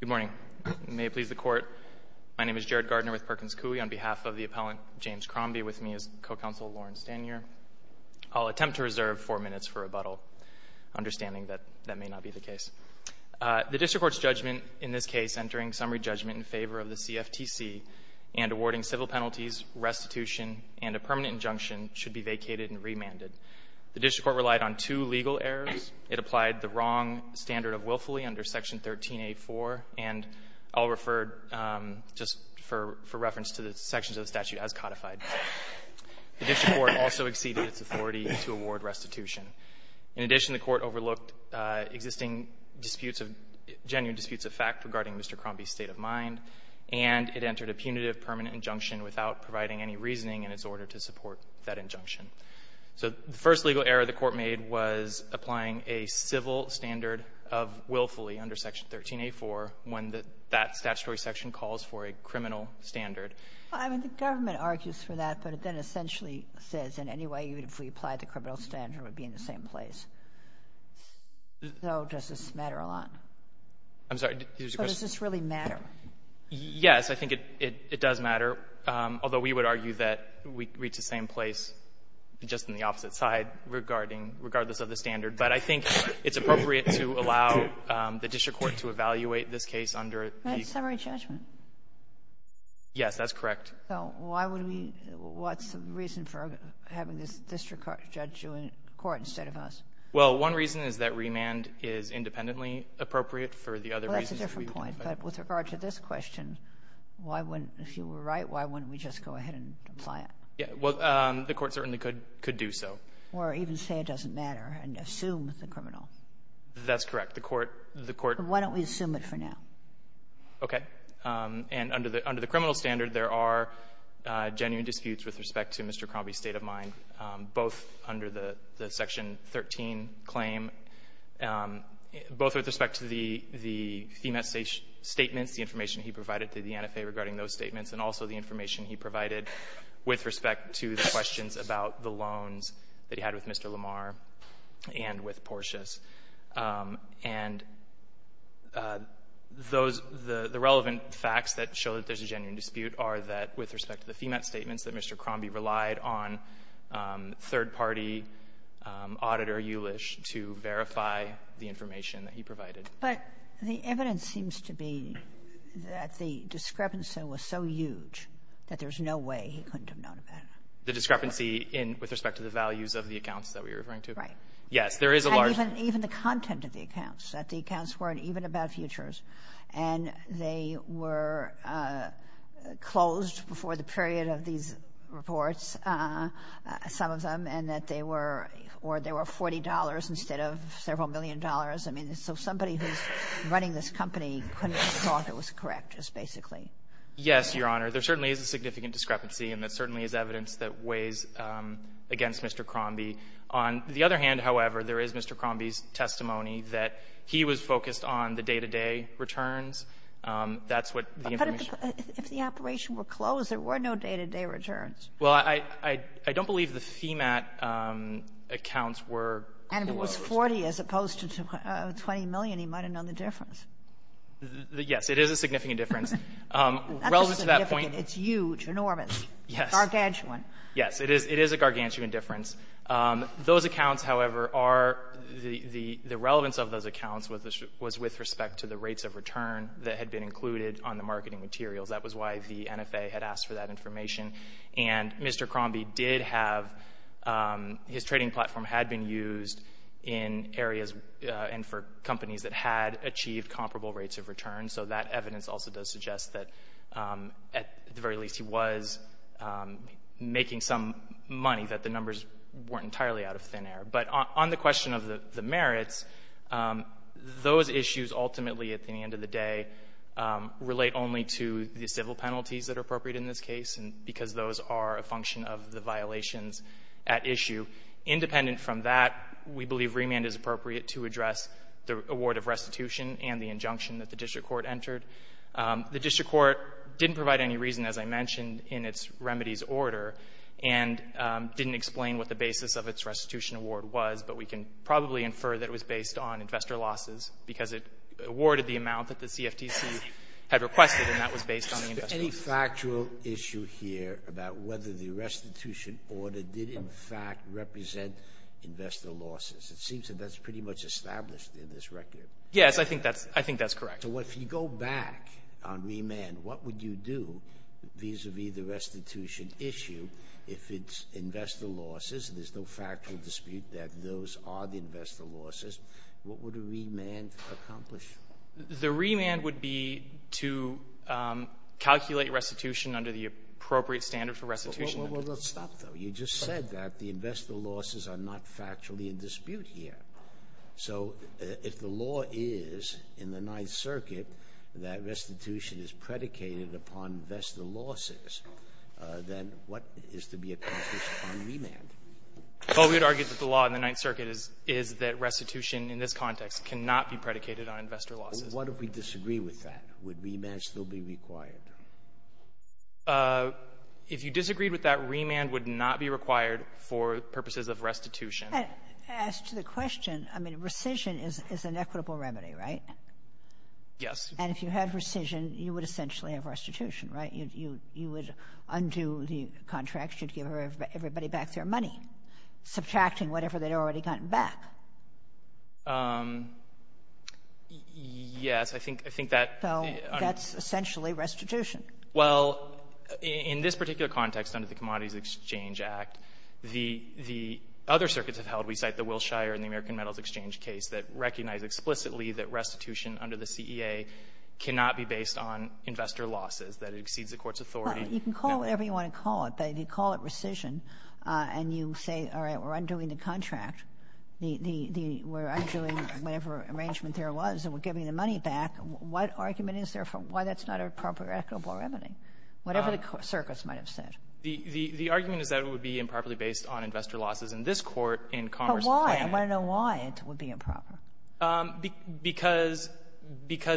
Good morning. May it please the Court, my name is Jared Gardner with Perkins Coie. On behalf of the appellant James Crombie, with me is Co-Counsel Lauren Stanyer. I'll attempt to reserve four minutes for rebuttal, understanding that that may not be the case. The District Court's judgment in this case, entering summary judgment in favor of the CFTC and awarding civil penalties, restitution, and a permanent injunction, should be vacated and remanded. The District Court relied on two legal errors. It applied the wrong standard of willfully under Section 13a.4, and I'll refer just for reference to the sections of the statute as codified. The District Court also exceeded its authority to award restitution. In addition, the Court overlooked existing disputes of genuine disputes of fact regarding Mr. Crombie's state of mind, and it entered a punitive permanent injunction without providing any reasoning in its order to support that injunction. So the first legal error the Court made was applying a civil standard of willfully under Section 13a.4, when that statutory section calls for a criminal standard. Well, I mean, the government argues for that, but it then essentially says in any way, even if we applied the criminal standard, we'd be in the same place. So does this matter a lot? I'm sorry. So does this really matter? Yes. I think it does matter, although we would argue that we'd reach the same place just on the opposite side regarding — regardless of the standard. But I think it's appropriate to allow the District Court to evaluate this case under the — That's summary judgment. Yes, that's correct. So why would we — what's the reason for having the District Court judge you in court instead of us? Well, one reason is that remand is independently appropriate. For the other reasons That's a different point. But with regard to this question, why wouldn't — if you were right, why wouldn't we just go ahead and apply it? Yeah. Well, the Court certainly could do so. Or even say it doesn't matter and assume the criminal. That's correct. The Court — Then why don't we assume it for now? Okay. And under the criminal standard, there are genuine disputes with respect to Mr. Crombie's statements, the information he provided to the NFA regarding those statements, and also the information he provided with respect to the questions about the loans that he had with Mr. Lamar and with Porteous. And those — the relevant facts that show that there's a genuine dispute are that with respect to the FEMAT statements that Mr. Crombie relied on third-party auditor Eulish to verify the information that he provided. But the evidence seems to be that the discrepancy was so huge that there's no way he couldn't have known about it. The discrepancy in — with respect to the values of the accounts that we're referring to? Right. Yes, there is a large — And even the content of the accounts, that the accounts weren't even about futures, and they were closed before the period of these reports, some of them, and that they were $40 instead of several million dollars. I mean, so somebody who's running this company couldn't have thought it was correct, just basically. Yes, Your Honor. There certainly is a significant discrepancy, and there certainly is evidence that weighs against Mr. Crombie. On the other hand, however, there is Mr. Crombie's testimony that he was focused on the day-to-day returns. That's what the information — But if the operation were closed, there were no day-to-day returns. Well, I don't believe the FEMAT accounts were closed. And if it was $40 as opposed to $20 million, he might have known the difference. Yes, it is a significant difference. Not just significant. It's huge, enormous. Yes. Gargantuan. Yes, it is a gargantuan difference. Those accounts, however, are — the relevance of those accounts was with respect to the rates of return that had been included on the And Mr. Crombie did have — his trading platform had been used in areas and for companies that had achieved comparable rates of return, so that evidence also does suggest that, at the very least, he was making some money, that the numbers weren't entirely out of thin air. But on the question of the merits, those issues ultimately, at the end of the day, relate only to the civil penalties that are appropriate in this case, because those are a function of the violations at issue. Independent from that, we believe remand is appropriate to address the award of restitution and the injunction that the district court entered. The district court didn't provide any reason, as I mentioned, in its remedies order, and didn't explain what the basis of its restitution award was, but we can probably infer that it was based on investor losses, because it awarded the amount that the CFTC had requested, and that was based on the investor losses. There's no factual issue here about whether the restitution order did, in fact, represent investor losses. It seems that that's pretty much established in this record. Yes, I think that's correct. So if you go back on remand, what would you do vis-a-vis the restitution issue if it's investor losses, and there's no factual dispute that those are the investor losses, what would a remand accomplish? The remand would be to calculate restitution under the appropriate standard for restitution. Well, stop, though. You just said that the investor losses are not factually in dispute here. So if the law is in the Ninth Circuit that restitution is predicated upon investor losses, then what is to be accomplished on remand? Well, we would argue that the law in the Ninth Circuit is that restitution in this case is investor losses. What if we disagree with that? Would remand still be required? If you disagreed with that, remand would not be required for purposes of restitution. As to the question, I mean, rescission is an equitable remedy, right? Yes. And if you had rescission, you would essentially have restitution, right? You would undo the contract, you'd give everybody back their money, subtracting whatever they'd already gotten back. Yes. I think that— So that's essentially restitution. Well, in this particular context under the Commodities Exchange Act, the other circuits have held—we cite the Wilshire and the American Metals Exchange case that recognize explicitly that restitution under the CEA cannot be based on investor losses, that it exceeds the court's authority. You can call it whatever you want to call it, but if you call it rescission and you say, all right, we're undoing the contract, we're undoing whatever arrangement there was and we're giving the money back, what argument is there for why that's not a proper, equitable remedy, whatever the circuits might have said? The argument is that it would be improperly based on investor losses in this court in Commerce and Planning. But why? I want to know why it would be improper. Because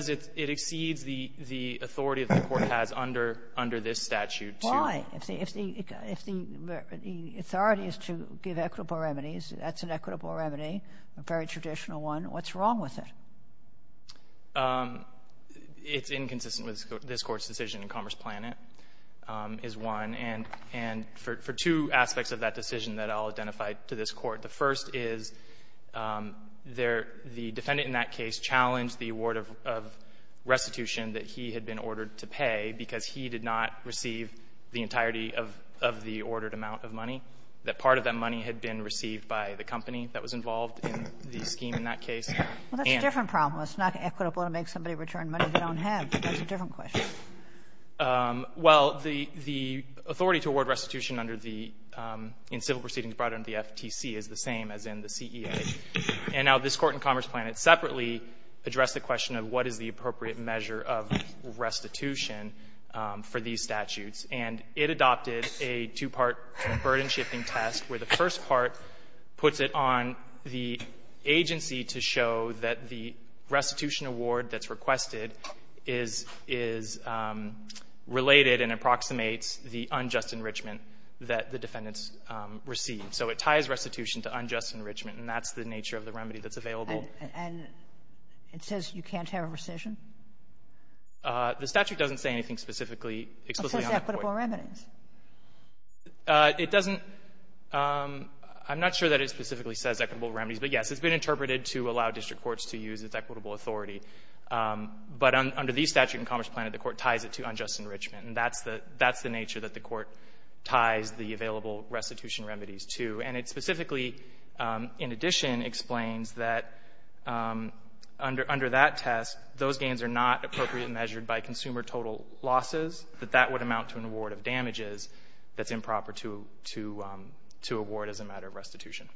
it exceeds the authority that the court has under this statute to— to give equitable remedies. That's an equitable remedy, a very traditional one. What's wrong with it? It's inconsistent with this court's decision in Commerce Planning is one. And for two aspects of that decision that I'll identify to this court. The first is the defendant in that case challenged the award of restitution that he had been ordered to pay because he did not receive the entirety of the ordered amount of money. That part of that money had been received by the company that was involved in the scheme in that case. And— Well, that's a different problem. It's not equitable to make somebody return money they don't have. That's a different question. Well, the authority to award restitution under the — in civil proceedings brought under the FTC is the same as in the CEA. And now this court in Commerce Planning separately addressed the question of what is the appropriate measure of restitution for these statutes. And it adopted a two-part burden-shifting test where the first part puts it on the agency to show that the restitution award that's requested is — is related and approximates the unjust enrichment that the defendants received. So it ties restitution to unjust enrichment, and that's the nature of the remedy that's available. And it says you can't have a rescission? The statute doesn't say anything specifically, explicitly on that. It says equitable remedies. It doesn't — I'm not sure that it specifically says equitable remedies. But, yes, it's been interpreted to allow district courts to use its equitable authority. But under the statute in Commerce Planning, the court ties it to unjust enrichment, and that's the — that's the nature that the court ties the available restitution remedies to. And it specifically, in addition, explains that under — under that test, those damages that's improper to — to award as a matter of restitution.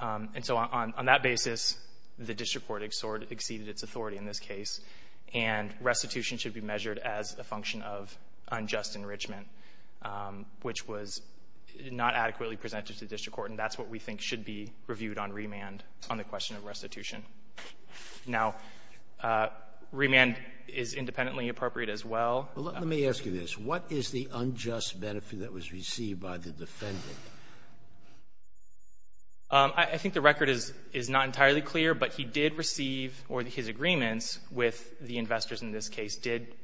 And so on that basis, the district court exhort — exceeded its authority in this case, and restitution should be measured as a function of unjust enrichment, which was not adequately presented to the district court. And that's what we think should be reviewed on remand on the question of restitution. Now, remand is independently appropriate as well. Let me ask you this. What is the unjust benefit that was received by the defendant? I think the record is — is not entirely clear, but he did receive — or his agreements with the investors in this case did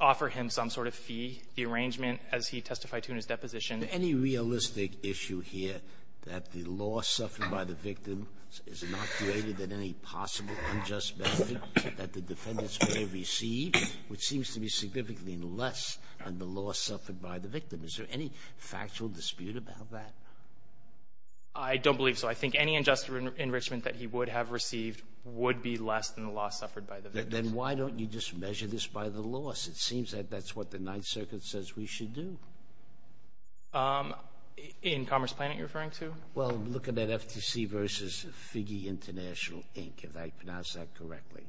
offer him some sort of fee, the arrangement as he testified to in his deposition. Is there any realistic issue here that the loss suffered by the victim is not greater than any possible unjust benefit that the defendants may have received, which seems to be significantly less than the loss suffered by the victim? Is there any factual dispute about that? I don't believe so. I think any unjust enrichment that he would have received would be less than the loss suffered by the victim. Then why don't you just measure this by the loss? It seems that that's what the Ninth Circuit says we should do. In Commerce Planet you're referring to? Well, look at that FTC versus Figge International, Inc., if I pronounce that correctly.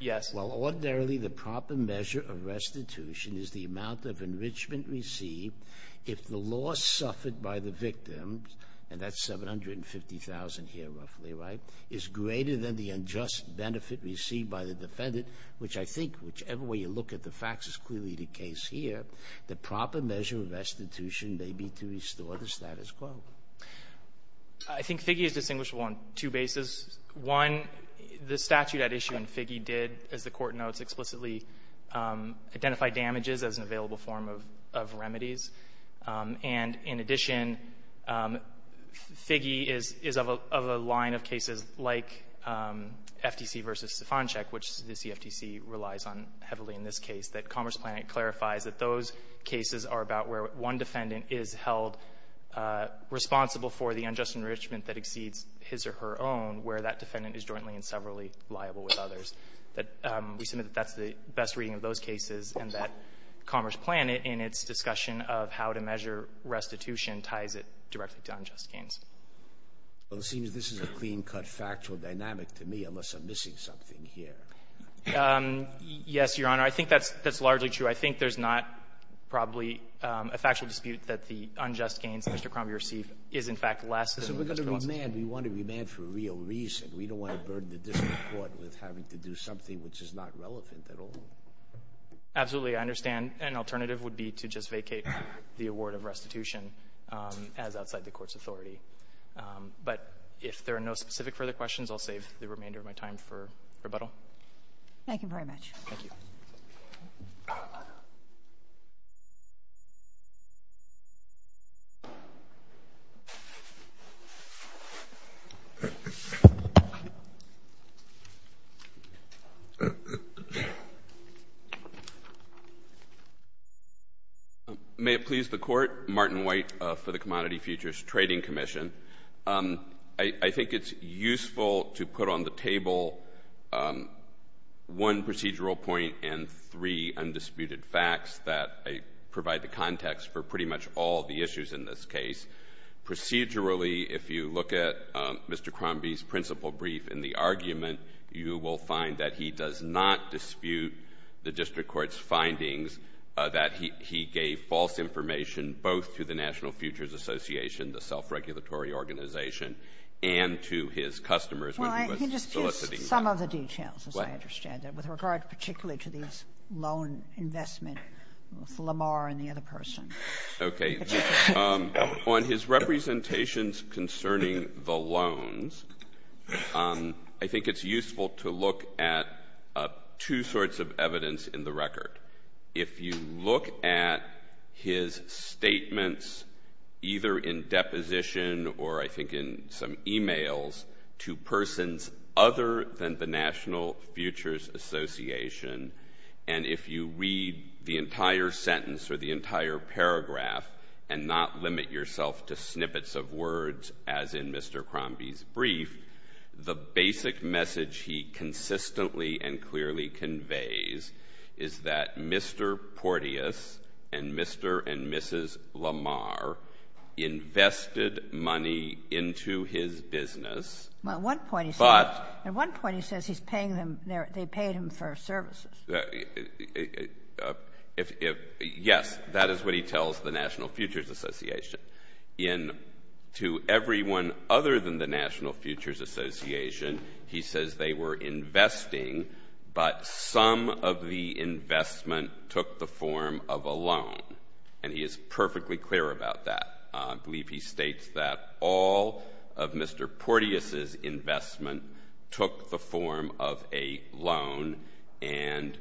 Yes. Well, ordinarily the proper measure of restitution is the amount of enrichment received if the loss suffered by the victim, and that's $750,000 here roughly, right, is greater than the unjust benefit received by the defendant, which I think whichever way you look at the facts is clearly the case here. The proper measure of restitution may be to restore the status quo. I think Figge is distinguishable on two bases. One, the statute at issue in Figge did, as the Court notes, explicitly identify damages as an available form of remedies. And in addition, Figge is of a line of cases like FTC versus Stefanczyk, which the CFTC relies on heavily in this case, that Commerce Planet clarifies that those cases are about where one defendant is held responsible for the unjust enrichment that exceeds his or her own, where that defendant is jointly and severally liable with others. We submit that that's the best reading of those cases, and that Commerce Planet in its discussion of how to measure restitution ties it directly to unjust gains. Well, it seems this is a clean-cut factual dynamic to me, unless I'm missing something here. Yes, Your Honor. I think that's largely true. I think there's not probably a factual dispute that the unjust gains Mr. Crombie received is, in fact, less than what Mr. Watson said. So we're going to remand. We want to remand for a real reason. We don't want to burden the district court with having to do something which is not relevant at all. Absolutely. I understand an alternative would be to just vacate the award of restitution as outside the Court's authority. But if there are no specific further questions, I'll save the remainder of my time for rebuttal. Thank you very much. Thank you. Thank you. May it please the Court. Martin White for the Commodity Futures Trading Commission. I think it's useful to put on the table one procedural point and three undisputed facts that provide the context for pretty much all the issues in this case. Procedurally, if you look at Mr. Crombie's principal brief in the argument, you will find that he does not dispute the district court's findings that he gave false information both to the National Futures Association, the self-regulatory organization, and to his customers when he was soliciting them. Well, he just used some of the details, as I understand it, with regard particularly to these loan investments with Lamar and the other person. Okay. On his representations concerning the loans, I think it's useful to look at two sorts of evidence in the record. If you look at his statements either in deposition or I think in some emails to persons other than the National Futures Association, and if you read the entire sentence or the entire paragraph and not limit yourself to snippets of words as in Mr. Crombie's brief, the basic message he consistently and clearly conveys is that Mr. Porteus and Mr. and Mrs. Lamar invested money into his business. Well, at one point he says he's paying them, they paid him for services. Yes, that is what he tells the National Futures Association. And to everyone other than the National Futures Association, he says they were investing, but some of the investment took the form of a loan. And he is perfectly clear about that. I believe he states that all of Mr. Porteus's investment took the form of a loan and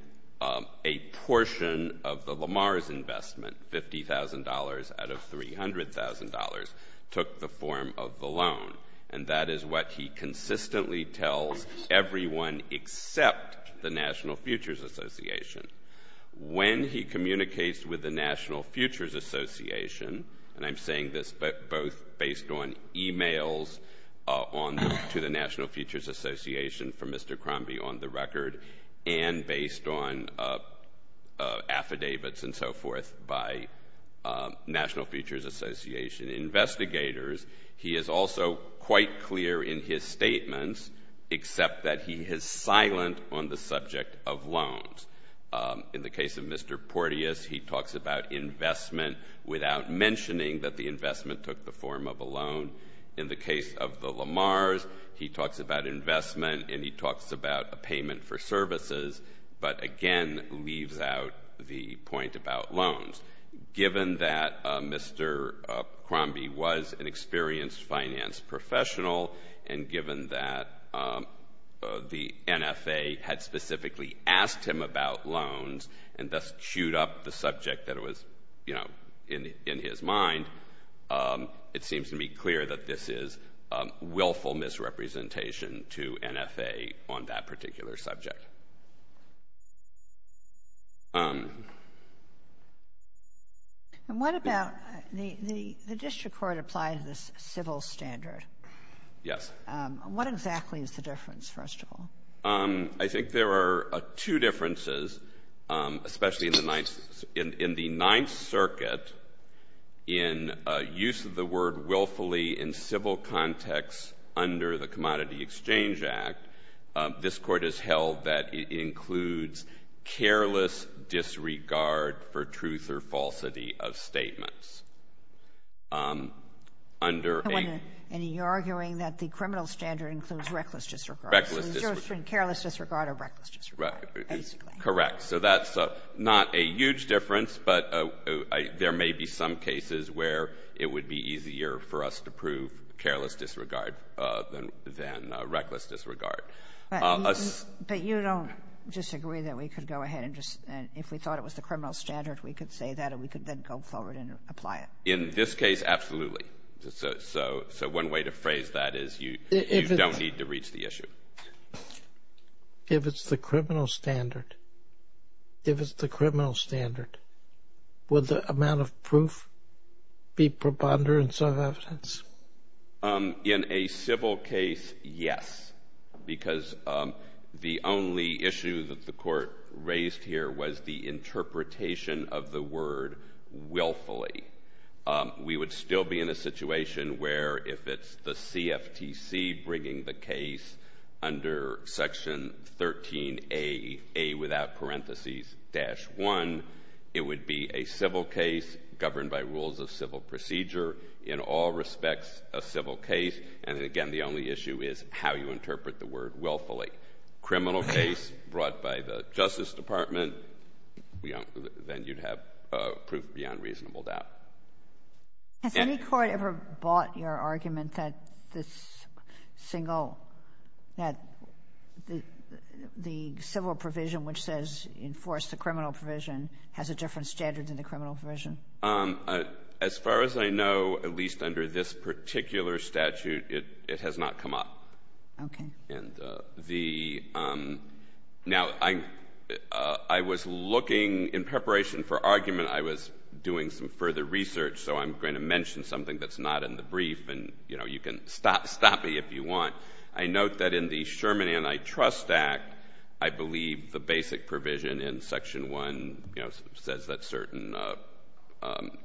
a portion of the Lamar's investment, $50,000 out of $300,000, took the form of the loan. And that is what he consistently tells everyone except the National Futures Association. When he communicates with the National Futures Association, and I'm saying this both based on emails to the National Futures Association from Mr. Crombie on the record and based on affidavits and so forth by National Futures Association investigators, he is also quite clear in his statements except that he is silent on the subject of loans. In the case of Mr. Porteus, he talks about investment without mentioning that the investment took the form of a loan. In the case of the Lamar's, he talks about investment and he talks about a payment for services but again leaves out the point about loans. Given that Mr. Crombie was an experienced finance professional and given that the NFA had specifically asked him about loans and thus chewed up the subject that was, you know, in his mind, it seems to me clear that this is willful misrepresentation to NFA on that particular subject. What about the district court applied to the civil standard? Yes. What exactly is the difference, first of all? I think there are two differences, especially in the Ninth Circuit in use of the word willfully in civil context under the Commodity Exchange Act. This court has held that it includes careless disregard for truth or falsity of statements. And you're arguing that the criminal standard includes reckless disregard. So it's either careless disregard or reckless disregard, basically. Correct. So that's not a huge difference but there may be some cases where it would be easier for us to prove careless disregard than reckless disregard. But you don't disagree that we could go ahead and just, if we thought it was the criminal standard, we could say that and we could then go forward and apply it. In this case, absolutely. So one way to phrase that is you don't need to reach the issue. If it's the criminal standard, if it's the criminal standard, would the amount of proof be preponderance of evidence? In a civil case, yes. Because the only issue that the court raised here was the interpretation of the word willfully. We would still be in a situation where if it's the CFTC bringing the case under Section 13A, A without parentheses, dash 1, it would be a civil case governed by rules of civil procedure. In all respects, a civil case. And again, the only issue is how you interpret the word willfully. If it's a criminal case brought by the Justice Department, then you'd have proof beyond reasonable doubt. Has any court ever bought your argument that the civil provision which says enforce the criminal provision has a different standard than the criminal provision? As far as I know, at least under this particular statute, it has not come up. Okay. Now, I was looking in preparation for argument, I was doing some further research, so I'm going to mention something that's not in the brief, and you can stop me if you want. I note that in the Sherman Antitrust Act, I believe the basic provision in Section 1 says that certain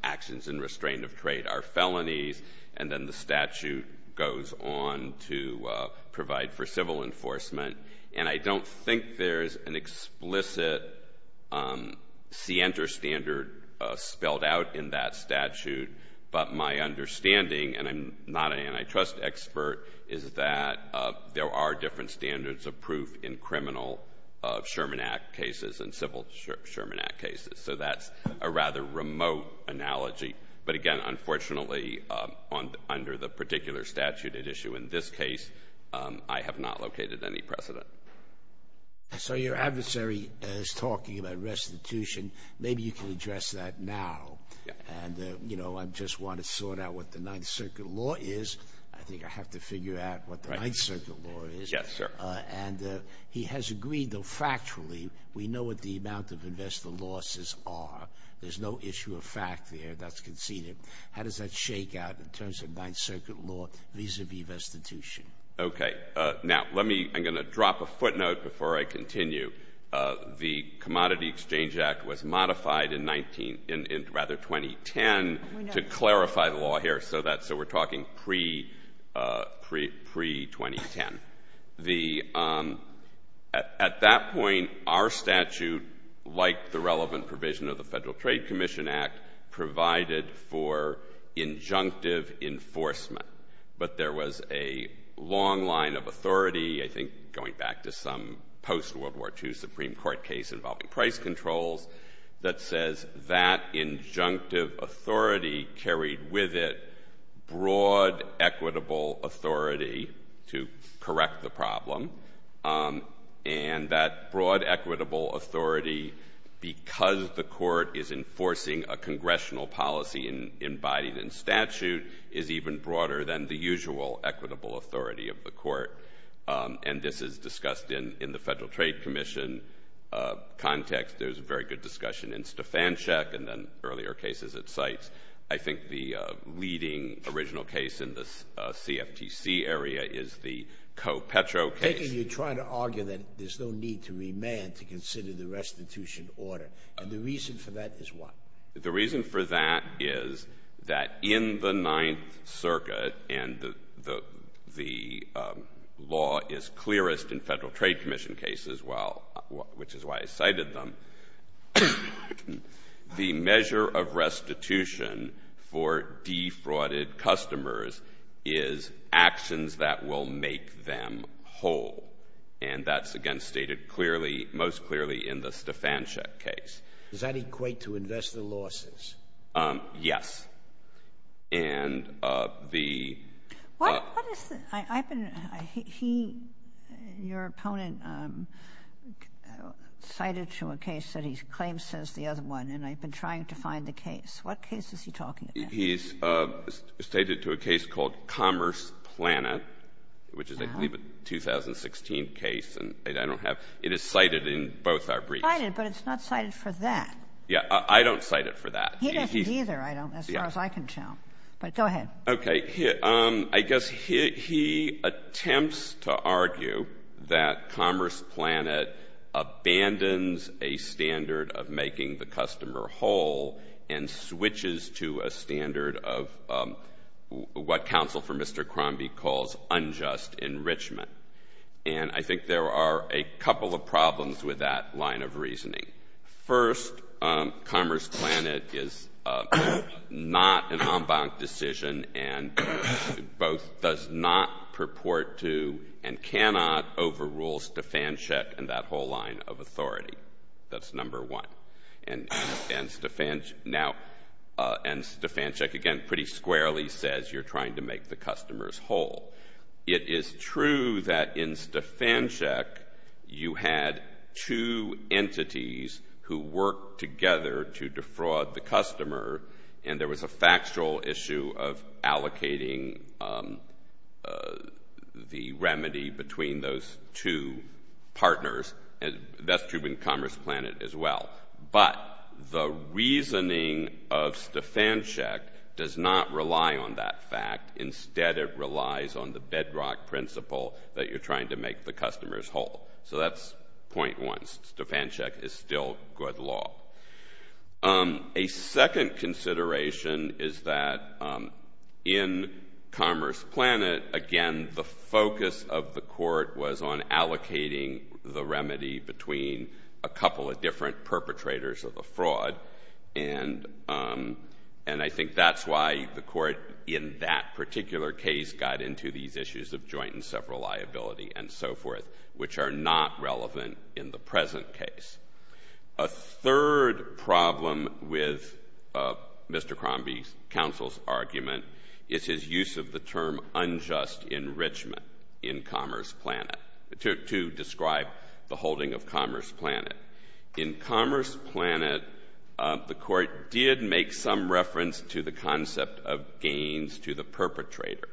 actions in restraint of trade are felonies, and then the statute goes on to provide for civil enforcement. And I don't think there's an explicit scienter standard spelled out in that statute, but my understanding, and I'm not an antitrust expert, is that there are different standards of proof in criminal Sherman Act cases and civil Sherman Act cases. So that's a rather remote analogy. But again, unfortunately, under the particular statute at issue in this case, I have not located any precedent. So your adversary is talking about restitution. Maybe you can address that now. And, you know, I just want to sort out what the Ninth Circuit law is. I think I have to figure out what the Ninth Circuit law is. Yes, sir. And he has agreed, though factually, we know what the amount of investor losses are. There's no issue of fact there. That's conceded. How does that shake out in terms of Ninth Circuit law vis-à-vis restitution? Okay. Now, let me — I'm going to drop a footnote before I continue. The Commodity Exchange Act was modified in rather 2010 to clarify the law here, so we're talking pre-2010. At that point, our statute, like the relevant provision of the Federal Trade Commission Act, provided for injunctive enforcement, but there was a long line of authority, I think going back to some post-World War II Supreme Court case involving price controls, that says that injunctive authority carried with it broad equitable authority to correct the problem, and that broad equitable authority, because the court is enforcing a congressional policy embodied in statute, is even broader than the usual equitable authority of the court. And this is discussed in the Federal Trade Commission context. There was a very good discussion in Stefanchuk and then earlier cases at sites. I think the leading original case in the CFTC area is the Co-Petro case. Then you're trying to argue that there's no need to remand to consider the restitution order, and the reason for that is what? The reason for that is that in the Ninth Circuit, and the law is clearest in Federal Trade Commission cases, which is why I cited them, the measure of restitution for defrauded customers is actions that will make them whole, and that's, again, stated clearly, most clearly in the Stefanchuk case. Does that equate to investor losses? Yes. Your opponent cited to a case that he's claimed since the other one, and I've been trying to find the case. What case is he talking about? He's stated to a case called Commerce Planet, which is a 2016 case. It is cited in both our briefs. It's cited, but it's not cited for that. Yeah, I don't cite it for that. He doesn't either, as far as I can tell, but go ahead. Okay. I guess he attempts to argue that Commerce Planet abandons a standard of making the customer whole and switches to a standard of what counsel for Mr. Crombie calls unjust enrichment, and I think there are a couple of problems with that line of reasoning. First, Commerce Planet is not an en banc decision and both does not purport to and cannot overrule Stefanchuk and that whole line of authority. That's number one. And Stefanchuk, again, pretty squarely says you're trying to make the customers whole. It is true that in Stefanchuk you had two entities who worked together to defraud the customer, and there was a factual issue of allocating the remedy between those two partners, and that's true in Commerce Planet as well. But the reasoning of Stefanchuk does not rely on that fact. Instead, it relies on the bedrock principle that you're trying to make the customers whole. So that's point one. Stefanchuk is still good law. A second consideration is that in Commerce Planet, again, the focus of the court was on allocating the remedy between a couple of different perpetrators of the fraud, and I think that's why the court in that particular case got into these issues of joint and separate liability and so forth, which are not relevant in the present case. A third problem with Mr. Crombie's counsel's argument is his use of the term unjust enrichment in Commerce Planet to describe the holding of Commerce Planet. In Commerce Planet, the court did make some reference to the concept of gains to the perpetrator,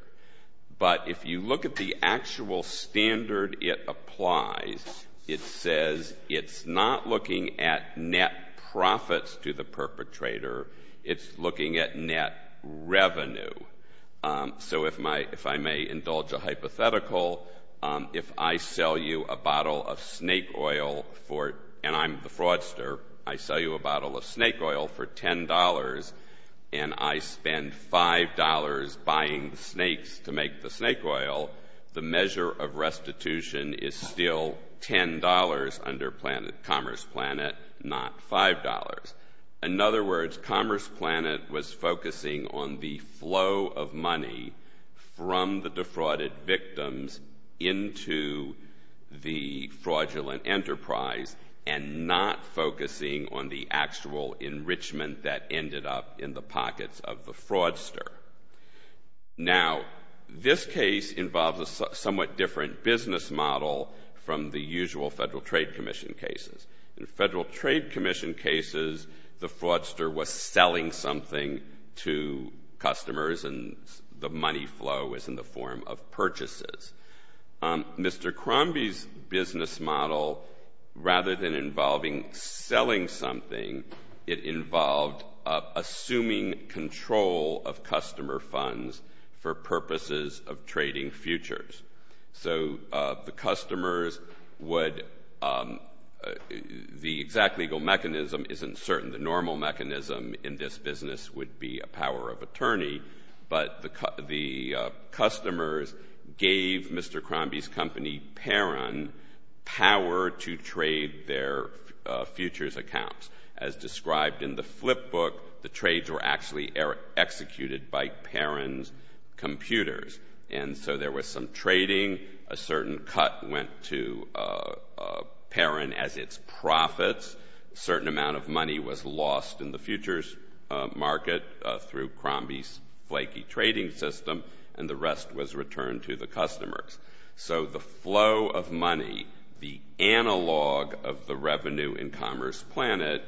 but if you look at the actual standard it applies, it says it's not looking at net profits to the perpetrator, it's looking at net revenue. So if I may indulge a hypothetical, if I sell you a bottle of snake oil and I'm the fraudster, I sell you a bottle of snake oil for $10 and I spend $5 buying snakes to make the snake oil, the measure of restitution is still $10 under Commerce Planet, not $5. In other words, Commerce Planet was focusing on the flow of money from the defrauded victims into the fraudulent enterprise and not focusing on the actual enrichment that ended up in the pockets of the fraudster. Now, this case involves a somewhat different business model from the usual Federal Trade Commission cases. In Federal Trade Commission cases, the fraudster was selling something to customers and the money flow was in the form of purchases. Mr. Crombie's business model, rather than involving selling something, it involved assuming control of customer funds for purposes of trading futures. So the customers would—the exact legal mechanism isn't certain. The normal mechanism in this business would be a power of attorney, but the customers gave Mr. Crombie's company, Parron, power to trade their futures accounts. As described in the flipbook, the trades were actually executed by Parron's computers. And so there was some trading. A certain cut went to Parron as its profits. A certain amount of money was lost in the futures market through Crombie's flaky trading system, and the rest was returned to the customers. So the flow of money, the analog of the revenue in Commerce Planet,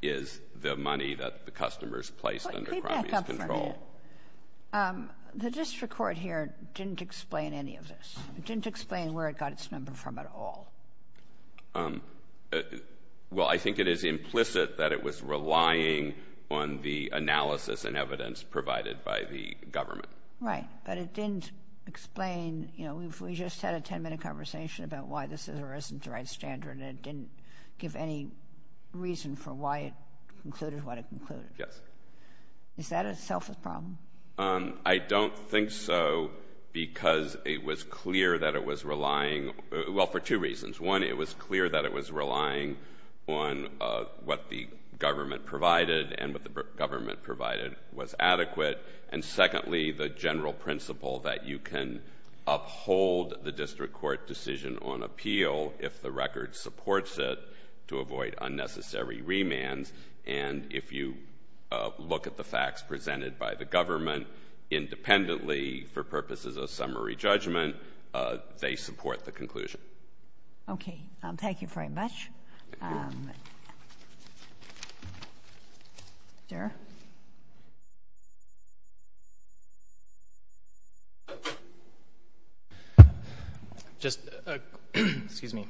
is the money that the customers placed under Crombie's control. The district court here didn't explain any of this. It didn't explain where it got its number from at all. Well, I think it is implicit that it was relying on the analysis and evidence provided by the government. Right, but it didn't explain—we just had a 10-minute conversation about why this is or isn't the right standard, and it didn't give any reason for why it concluded what it concluded. Yes. Is that itself a problem? I don't think so because it was clear that it was relying—well, for two reasons. One, it was clear that it was relying on what the government provided and what the government provided was adequate. And secondly, the general principle that you can uphold the district court decision on appeal if the record supports it to avoid unnecessary remands. And if you look at the facts presented by the government independently for purposes of summary judgment, they support the conclusion. Okay. Thank you very much. Der? Just—excuse me.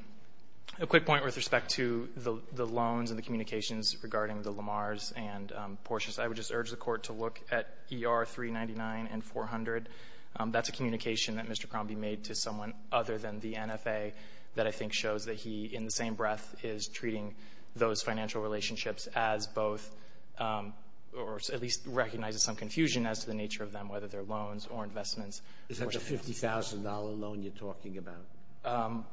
A quick point with respect to the loans and the communications regarding the Lamars and Porsches. I would just urge the Court to look at ER 399 and 400. That's a communication that Mr. Crombie made to someone other than the NFA that I think shows that he, in the same breath, is treating those financial relationships as both or at least recognizes some confusion as to the nature of them, whether they're loans or investments. Is that the $50,000 loan you're talking about?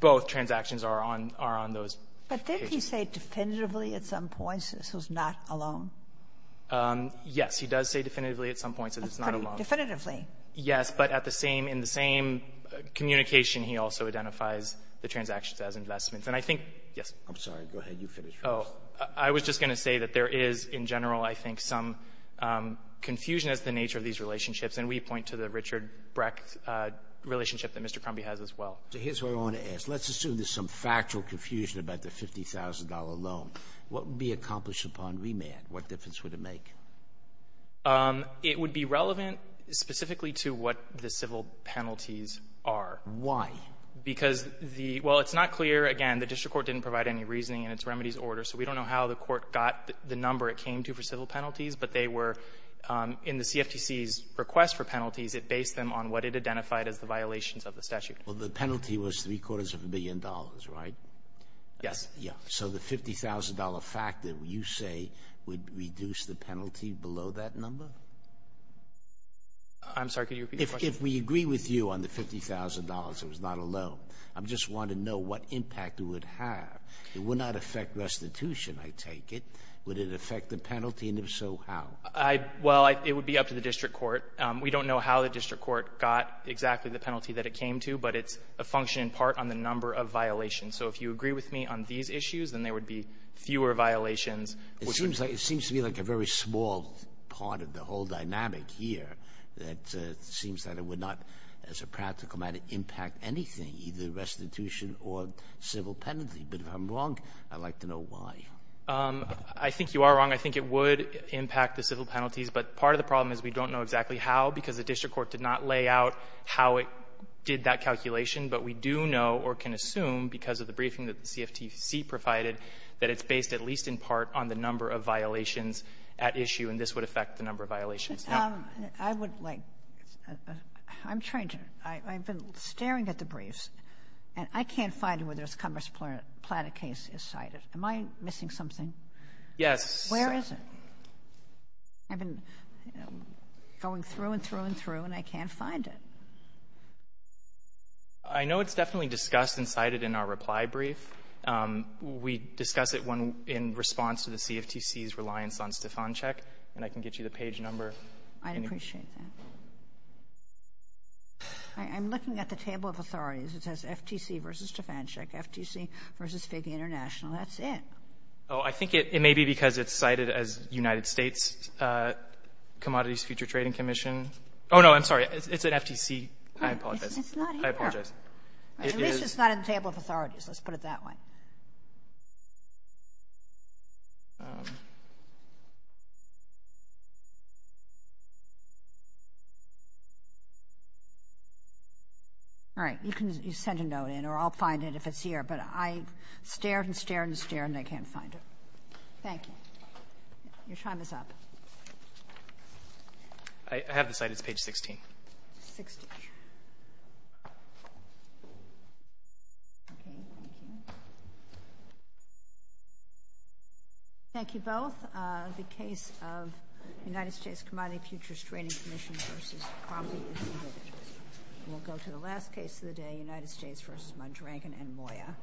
Both transactions are on those pages. But did he say definitively at some points this was not a loan? Yes. He does say definitively at some points that it's not a loan. Definitively. Yes. But at the same —in the same communication, he also identifies the transactions as investments. And I think—yes? I'm sorry. Go ahead. You finish. Oh. I was just going to say that there is, in general, I think, some confusion as to the nature of these relationships. And we point to the Richard Brecht relationship that Mr. Crombie has as well. So here's what I want to ask. Let's assume there's some factual confusion about the $50,000 loan. What would be accomplished upon remand? What difference would it make? It would be relevant specifically to what the civil penalties are. Why? Because the —well, it's not clear. Again, the district court didn't provide any reasoning in its remedies order, so we don't know how the court got the number it came to for civil penalties. But they were —in the CFTC's request for penalties, it based them on what it identified as the violations of the statute. Well, the penalty was three-quarters of a billion dollars, right? Yes. Yes. So the $50,000 factor, you say, would reduce the penalty below that number? I'm sorry. Could you repeat the question? If we agree with you on the $50,000, it was not a loan. I just want to know what impact it would have. It would not affect restitution, I take it. Would it affect the penalty, and if so, how? Well, it would be up to the district court. We don't know how the district court got exactly the penalty that it came to, but it's a function in part on the number of violations. So if you agree with me on these issues, then there would be fewer violations. It seems to me like a very small part of the whole dynamic here that seems that it would not, as a practical matter, impact anything, either restitution or civil penalty. But if I'm wrong, I'd like to know why. I think you are wrong. I think it would impact the civil penalties. But part of the problem is we don't know exactly how because the district court did not lay out how it did that calculation. But we do know or can assume because of the briefing that the CFTC provided that it's based at least in part on the number of violations at issue, and this would affect the number of violations. I would like – I'm trying to – I've been staring at the briefs, and I can't find where this Commerce Platta case is cited. Am I missing something? Yes. Where is it? I've been going through and through and through, and I can't find it. I know it's definitely discussed and cited in our reply brief. We discuss it in response to the CFTC's reliance on Stefancheck, and I can get you the page number. I'd appreciate that. I'm looking at the table of authorities. It says FTC versus Stefancheck, FTC versus FIG International. That's it. Oh, I think it may be because it's cited as United States Commodities Future Trading Commission. Oh, no, I'm sorry. It's at FTC. I apologize. It's not here. I apologize. At least it's not in the table of authorities. Let's put it that way. All right. You can send a note in, or I'll find it if it's here. But I stared and stared and stared, and I can't find it. Thank you. Your time is up. I have the site. It's page 16. Okay. Thank you. Thank you both. The case of United States Commodity Futures Trading Commission versus Cromley is submitted. We'll go to the last case of the day, United States versus Mondragon and Moya,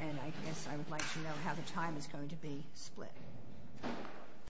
and I guess I would like to know how the time is going to be split.